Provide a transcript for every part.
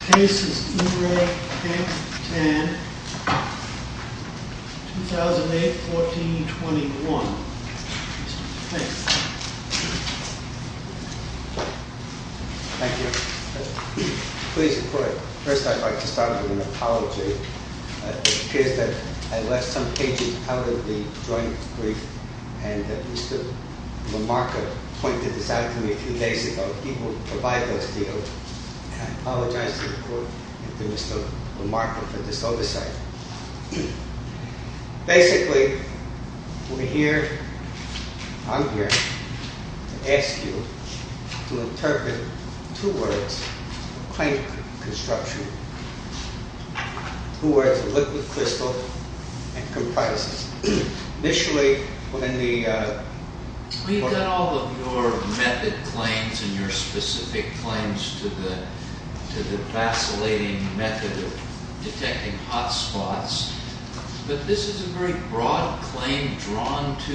Case is Urey K. Tan, 2008-14-21. Thank you. Thank you. Please report. First I'd like to start with an apology. It appears that I left some pages out of the joint brief, and Mr. Lamarca pointed this out to me a few days ago. People provide those details. I apologize to the Court and to Mr. Lamarca for this oversight. Basically, we're here, I'm here, to ask you to interpret two words, claim construction, two words, liquid crystal, and comprises. Initially, when the... We've got all of your method claims and your specific claims to the vacillating method of detecting hot spots, but this is a very broad claim drawn to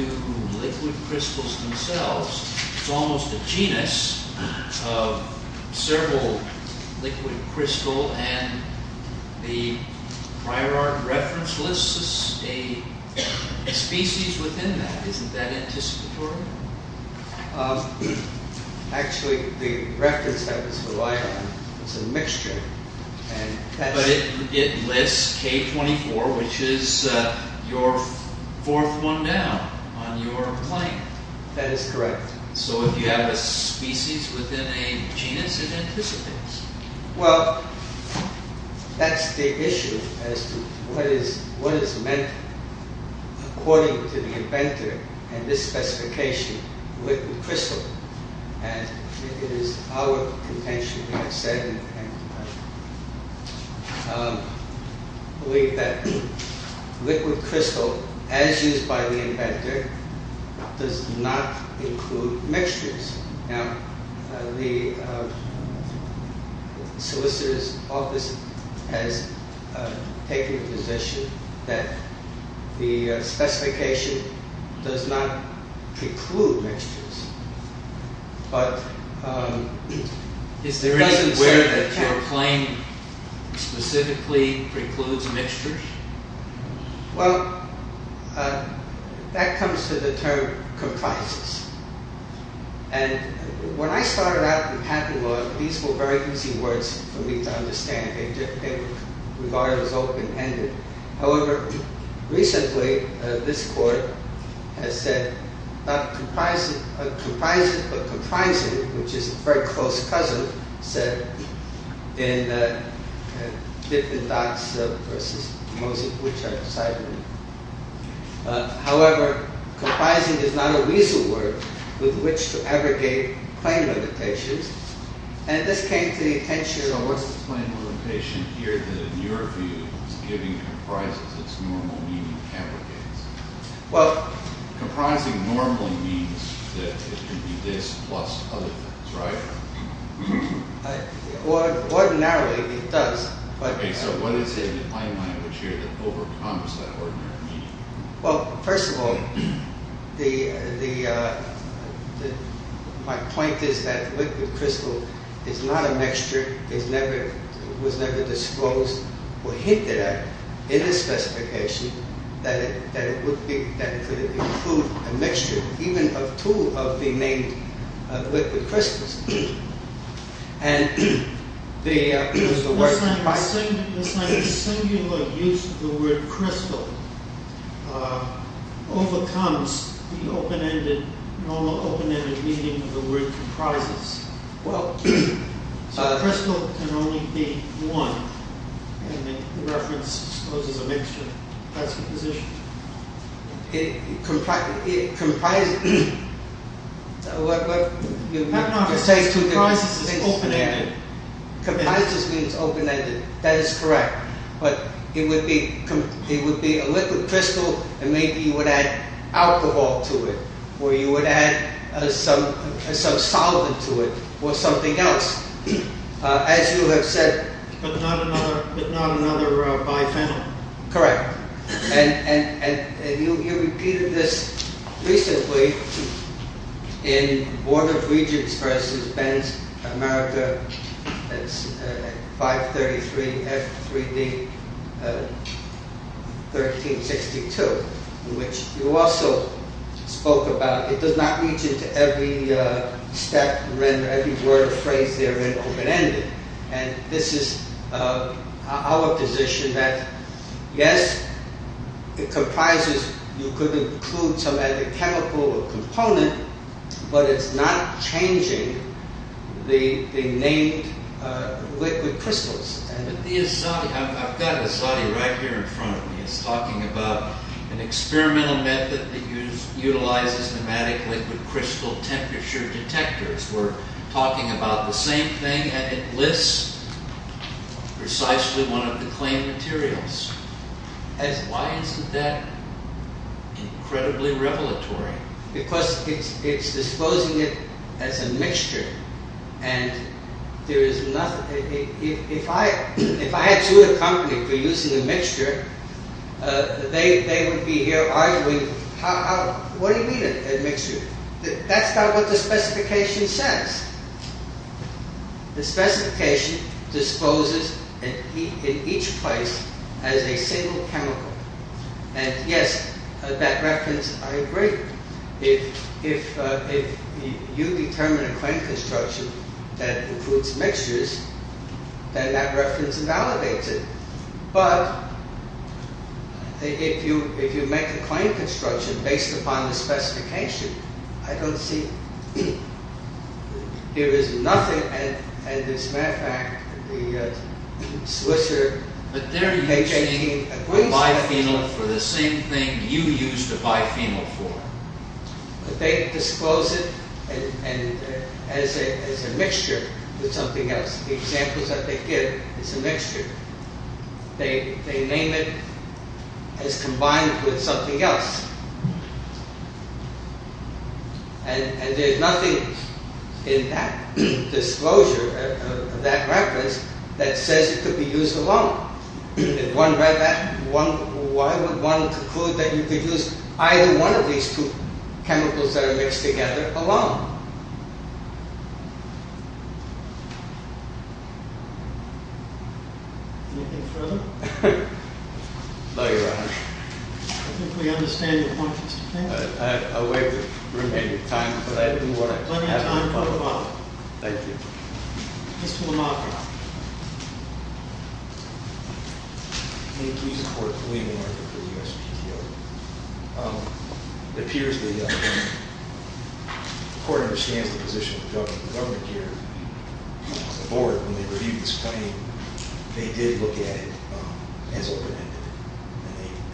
liquid crystals themselves. It's almost a genus of several liquid crystal, and the prior art reference lists a species within that. Isn't that anticipatory? Actually, the reference that was relied on was a mixture. But it lists K24, which is your fourth one now on your claim. That is correct. So if you have a species within a genus, it anticipates. Well, that's the issue, as to what is meant according to the inventor and this specification, liquid crystal. And it is our intention, we have said, and believe that liquid crystal, as used by the inventor, does not include mixtures. Now, the solicitor's office has taken a position that the specification does not preclude mixtures, but... Is there any way that your claim specifically precludes mixtures? Well, that comes to the term comprises. And when I started out in patent law, these were very easy words for me to understand. They were regarded as open-ended. However, recently, this court has said, not comprises, but comprising, which is a very close cousin, said in Dippin' Dots versus Moses, which I've decidedly... However, comprising is not a weasel word with which to abrogate claim limitations. And this came to the attention of... What's the claim limitation here that, in your view, is giving comprises its normal meaning abrogates? Well... Comprising normally means that it can be this plus other things, right? Ordinarily, it does. Okay, so what is it in the claim language here that overcomes that ordinary meaning? Well, first of all, my point is that liquid crystal is not a mixture. It was never disclosed or hinted at in the specification that it could include a mixture, even a tool of being made of liquid crystals. And the word comprising... The singular use of the word crystal overcomes the normal open-ended meaning of the word comprises. Well, a crystal can only be one, and the reference exposes a mixture. That's the position. It comprises... No, no, comprises is open-ended. Comprises means open-ended. That is correct. But it would be a liquid crystal, and maybe you would add alcohol to it, or you would add some solvent to it, or something else. As you have said... But not another biphenyl. Correct. And you repeated this recently in Board of Regents versus Ben's America 533 F3D 1362, in which you also spoke about it does not reach into every step and render every word or phrase therein open-ended. And this is our position, that yes, it comprises. You could include some other chemical or component, but it's not changing the named liquid crystals. But the Asadi... I've got Asadi right here in front of me. He's talking about an experimental method that utilizes pneumatic liquid crystal temperature detectors. We're talking about the same thing, and it lists precisely one of the claimed materials. Why isn't that incredibly revelatory? Because it's disposing it as a mixture, and there is nothing... If I had sued a company for using a mixture, they would be here arguing, what do you mean a mixture? That's not what the specification says. The specification disposes in each place as a single chemical. And yes, that reference, I agree. If you determine a claim construction that includes mixtures, then that reference validates it. But if you make a claim construction based upon the specification, I don't see... There is nothing... And as a matter of fact, the Swiss... But they're using a biphenyl for the same thing you used a biphenyl for. But they dispose it as a mixture with something else. The examples that they give is a mixture. They name it as combined with something else. And there's nothing in that disclosure, that reference, that says it could be used alone. Why would one conclude that you could use either one of these two chemicals that are mixed together alone? Anything further? No, Your Honor. I think we understand your point, Mr. Fanning. I have a way with the remainder of time, but I do what I can. Plenty of time for rebuttal. Thank you. Mr. Lamarck. May it please the Court, William Lamarck for the USPTO. It appears the Court understands the position of the government here. The Board, when they reviewed this claim, they did look at it as open-ended.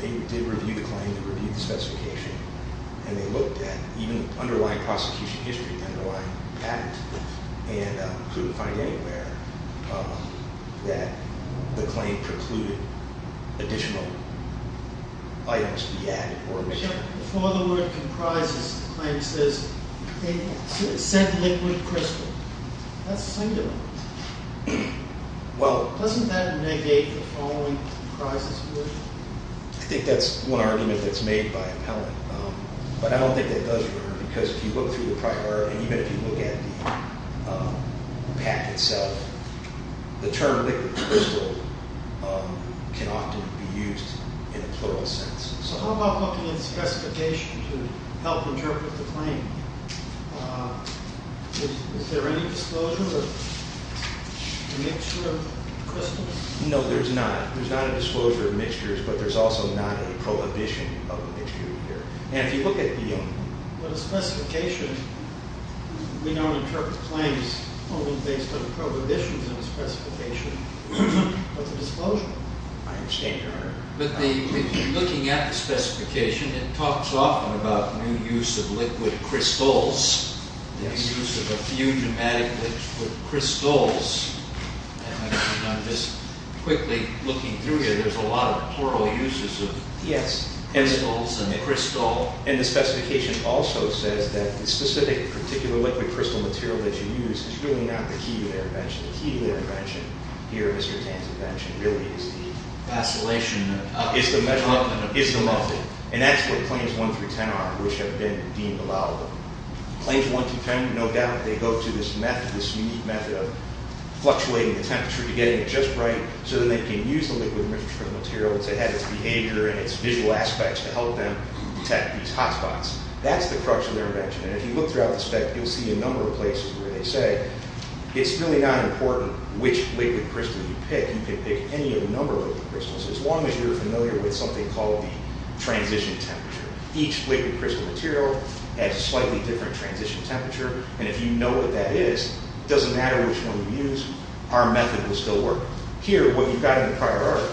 They did review the claim, they reviewed the specification, and they looked at even the underlying prosecution history, the underlying patent, and couldn't find anywhere that the claim precluded additional items to be added or removed. Before the word comprises the claims, there's a scent liquid crystal. That's singular. Well... Doesn't that negate the following comprises of the word? I think that's one argument that's made by appellant, but I don't think that does work, because if you look through the prior, and even if you look at the pack itself, the term liquid crystal can often be used in a plural sense. So how about looking at the specification to help interpret the claim? Is there any disclosure of a mixture of crystals? No, there's not. There's not a disclosure of mixtures, but there's also not a prohibition of a mixture here. And if you look at the specification, we don't interpret claims only based on prohibitions in the specification, but the disclosure. I understand, Your Honor. But looking at the specification, it talks often about new use of liquid crystals, the use of a few dramatic liquid crystals. I'm just quickly looking through here. There's a lot of plural uses of crystals. And the specification also says that the specific particular liquid crystal material that you use is really not the key to their invention. The key to their invention here, Mr. Tain's invention, really is the method. And that's what Claims 1 through 10 are, which have been deemed allowable. Claims 1 through 10, no doubt, they go to this method, this unique method of fluctuating the temperature to get it just right so that they can use the liquid crystal material to have its behavior and its visual aspects to help them detect these hotspots. That's the crux of their invention. And if you look throughout the spec, you'll see a number of places where they say it's really not important which liquid crystal you pick. You can pick any number of liquid crystals, as long as you're familiar with something called the transition temperature. Each liquid crystal material has a slightly different transition temperature. And if you know what that is, it doesn't matter which one you use, our method will still work. Here, what you've got in the prior art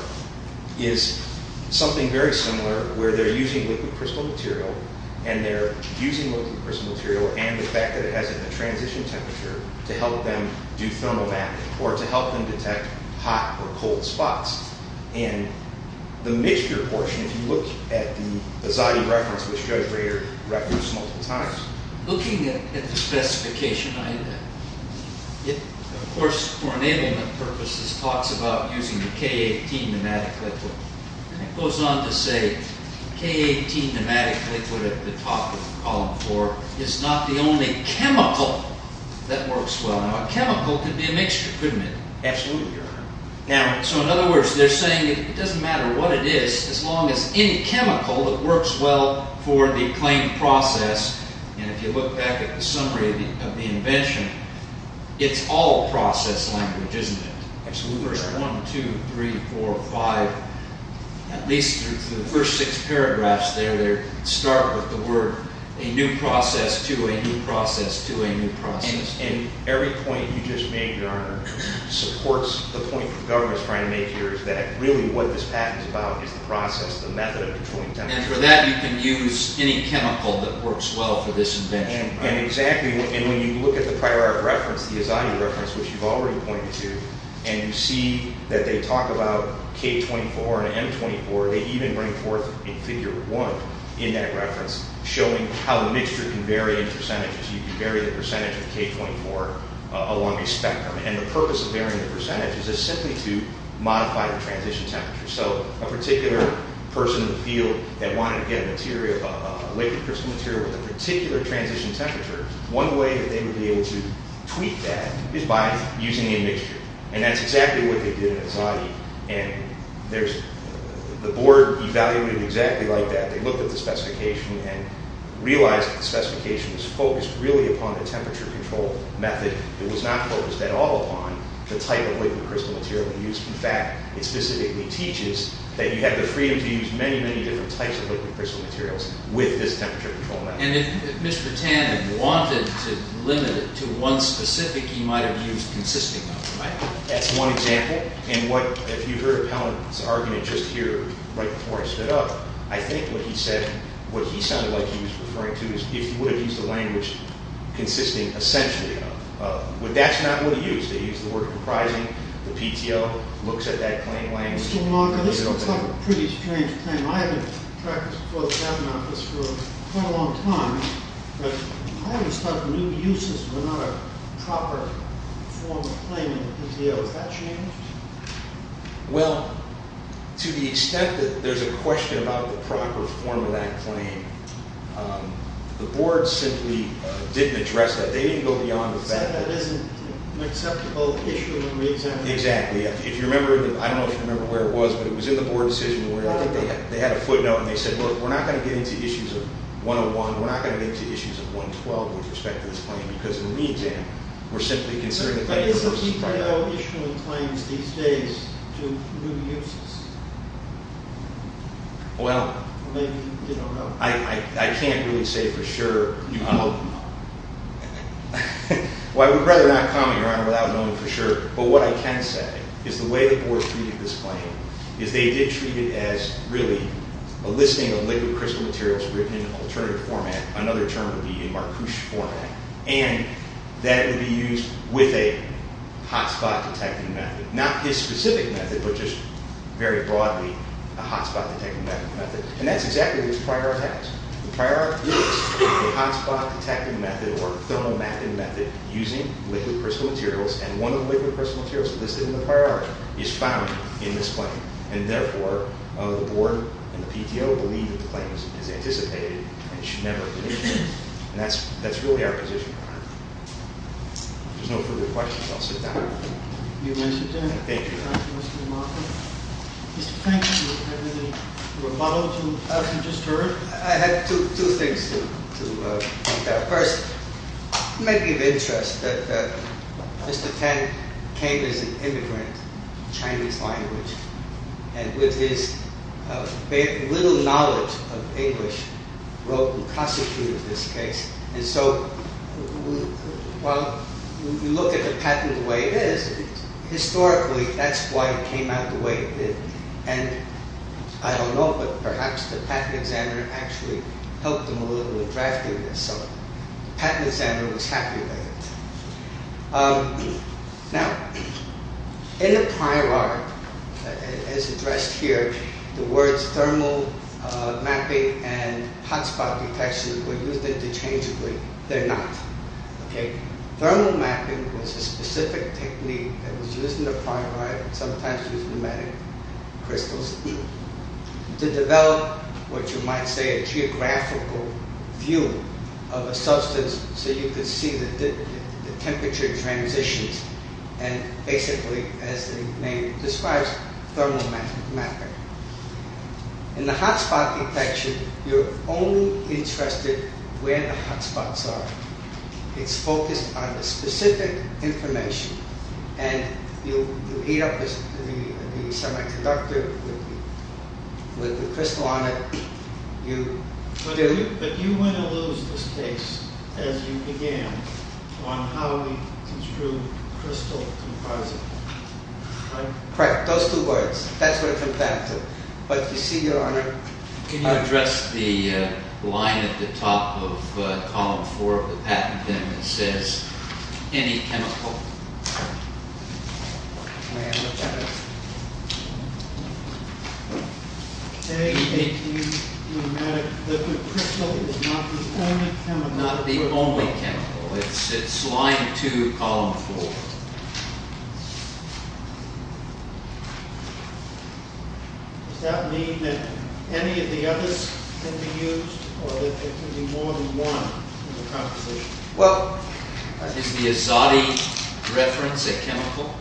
is something very similar where they're using liquid crystal material, and they're using liquid crystal material and the fact that it has a transition temperature to help them do thermal mapping or to help them detect hot or cold spots. And the mixture portion, if you look at the Zadi reference, which Judge Rayer referenced multiple times, looking at the specification, it, of course, for enablement purposes, talks about using the K18 pneumatic liquid. And it goes on to say K18 pneumatic liquid at the top of column 4 is not the only chemical that works well. Now, a chemical could be a mixture, couldn't it? Absolutely, Your Honor. Now, so in other words, they're saying it doesn't matter what it is, as long as any chemical that works well for the claimed process, and if you look back at the summary of the invention, it's all process language, isn't it? Absolutely, Your Honor. Verse 1, 2, 3, 4, 5, at least through the first six paragraphs there, they start with the word a new process to a new process to a new process. And every point you just made, Your Honor, supports the point the government is trying to make here is that really what this patent is about is the process, the method of controlling temperature. And for that, you can use any chemical that works well for this invention. And exactly. And when you look at the prior reference, the Izzani reference, which you've already pointed to, and you see that they talk about K24 and M24, they even bring forth in Figure 1 in that reference showing how the mixture can vary in percentages. You can vary the percentage of K24 along a spectrum. And the purpose of varying the percentage is simply to modify the transition temperature. So a particular person in the field that wanted to get a liquid crystal material with a particular transition temperature, one way that they would be able to tweak that is by using a mixture. And that's exactly what they did in Izzani. And the board evaluated exactly like that. They looked at the specification and realized that the specification was focused really upon the temperature control method. It was not focused at all upon the type of liquid crystal material they used. In fact, it specifically teaches that you have the freedom to use many, many different types of liquid crystal materials with this temperature control method. And if Mr. Tannin wanted to limit it to one specific he might have used consisting of, right? That's one example. And what, if you heard Pellant's argument just here right before I stood up, I think what he said, what he sounded like he was referring to is if he would have used a language consisting essentially of. But that's not what he used. They used the word comprising. The PTO looks at that claim language. So Mark, this is a pretty strange claim. I've been practicing for the cabinet office for quite a long time. But I always thought new uses were not a proper form of claiming PTO. Has that changed? Well, to the extent that there's a question about the proper form of that claim, the board simply didn't address that. They didn't go beyond the fact that. That isn't an acceptable issue in the re-examination. Exactly. I don't know if you remember where it was, but it was in the board decision where I think they had a footnote and they said, look, we're not going to get into issues of 101. We're not going to get into issues of 112 with respect to this claim because in the re-exam, we're simply considering a claim versus a claim. But isn't PTO issuing claims these days to new uses? Well, I can't really say for sure. Well, I would rather not comment, Your Honor, without knowing for sure. But what I can say is the way the board treated this claim is they did treat it as really a listing of liquid crystal materials written in an alternative format. Another term would be in Marcouche format. And that would be used with a hotspot detecting method. Not this specific method, but just very broadly, a hotspot detecting method. And that's exactly what the Prior Art has. The Prior Art is a hotspot detecting method or thermomapping method using liquid crystal materials. And one of the liquid crystal materials listed in the Prior Art is found in this claim. And therefore, the board and the PTO believe that the claim is anticipated and should never be issued. And that's really our position, Your Honor. If there's no further questions, I'll sit down. You may sit down. Thank you. Thank you, Mr. DeMarco. Mr. Franklin, you have really rebuttaled what you just heard. I have two things to point out. First, it may be of interest that Mr. Tan came as an immigrant of Chinese language and with his little knowledge of English wrote and prosecuted this case. And so, while you look at the patent the way it is, historically, that's why it came out the way it did. And I don't know, but perhaps the patent examiner actually helped him a little with drafting this. So, the patent examiner was happy with it. Now, in the Prior Art, as addressed here, the words thermomapping and hotspot detection were used interchangeably. They're not. Okay? Thermomapping was a specific technique that was used in the Prior Art sometimes with pneumatic crystals to develop what you might say a geographical view of a substance so you could see the temperature transitions and basically, as the name describes, thermomapping. In the hotspot detection, you're only interested where the hotspots are. It's focused on the specific information and you heat up the semiconductor with the crystal on it. But you wouldn't lose this case as you began on how we construe crystal composite. Correct. Those two words. That's what it comes down to. But you see, Your Honor... Can you address the line at the top of column four of the patent, that says any chemical? A, B, C, pneumatic liquid crystal is not the only chemical. Not the only chemical. It's line two, column four. Does that mean that any of the others can be used or that there can be more than one in the composition? Well... Is the Azadi reference a chemical?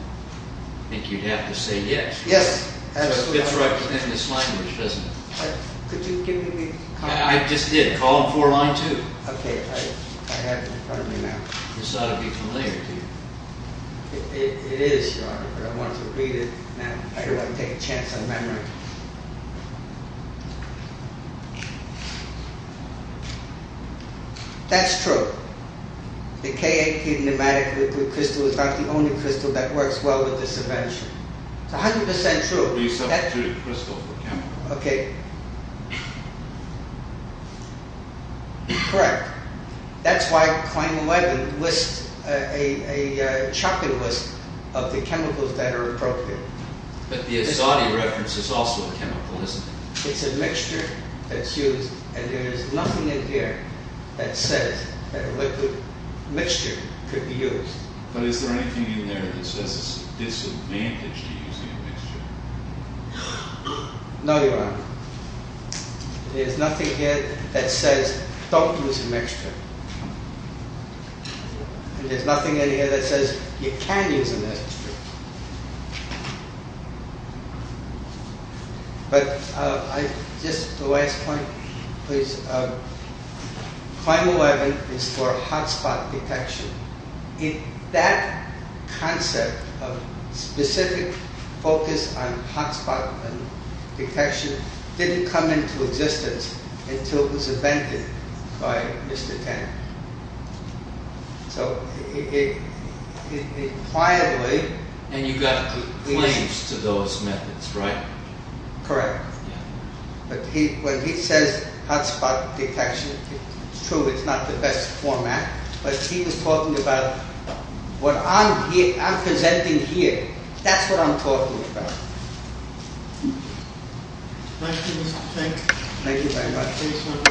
I think you'd have to say yes. Yes, absolutely. So it fits right within this language, doesn't it? Could you give me the... I just did. Column four, line two. Okay. I have it in front of me now. This ought to be familiar to you. It is, Your Honor, but I want to read it now if I could take a chance on memory. That's true. The K8 pneumatic liquid crystal is not the only crystal that works well with the subvention. It's 100% true. You substitute a crystal for a chemical. Okay. Correct. That's why claim 11 lists... a chopping list of the chemicals that are appropriate. But the Azadi reference is also a chemical, isn't it? It's a mixture that's used and there is nothing in here that says that a liquid mixture could be used. But is there anything in there that says it's a disadvantage to using a mixture? No, Your Honor. There's nothing in here that says don't use a mixture. There's nothing in here that says you can use a mixture. But I... Just the last point, please. Claim 11 is for hot spot detection. If that concept of specific focus on hot spot detection didn't come into existence until it was invented by Mr. Tan. So, it... it impliedly... And you got claims to those methods, right? Correct. But when he says hot spot detection, it's true it's not the best format. But he was talking about what I'm presenting here. That's what I'm talking about. Thank you. Thank you very much.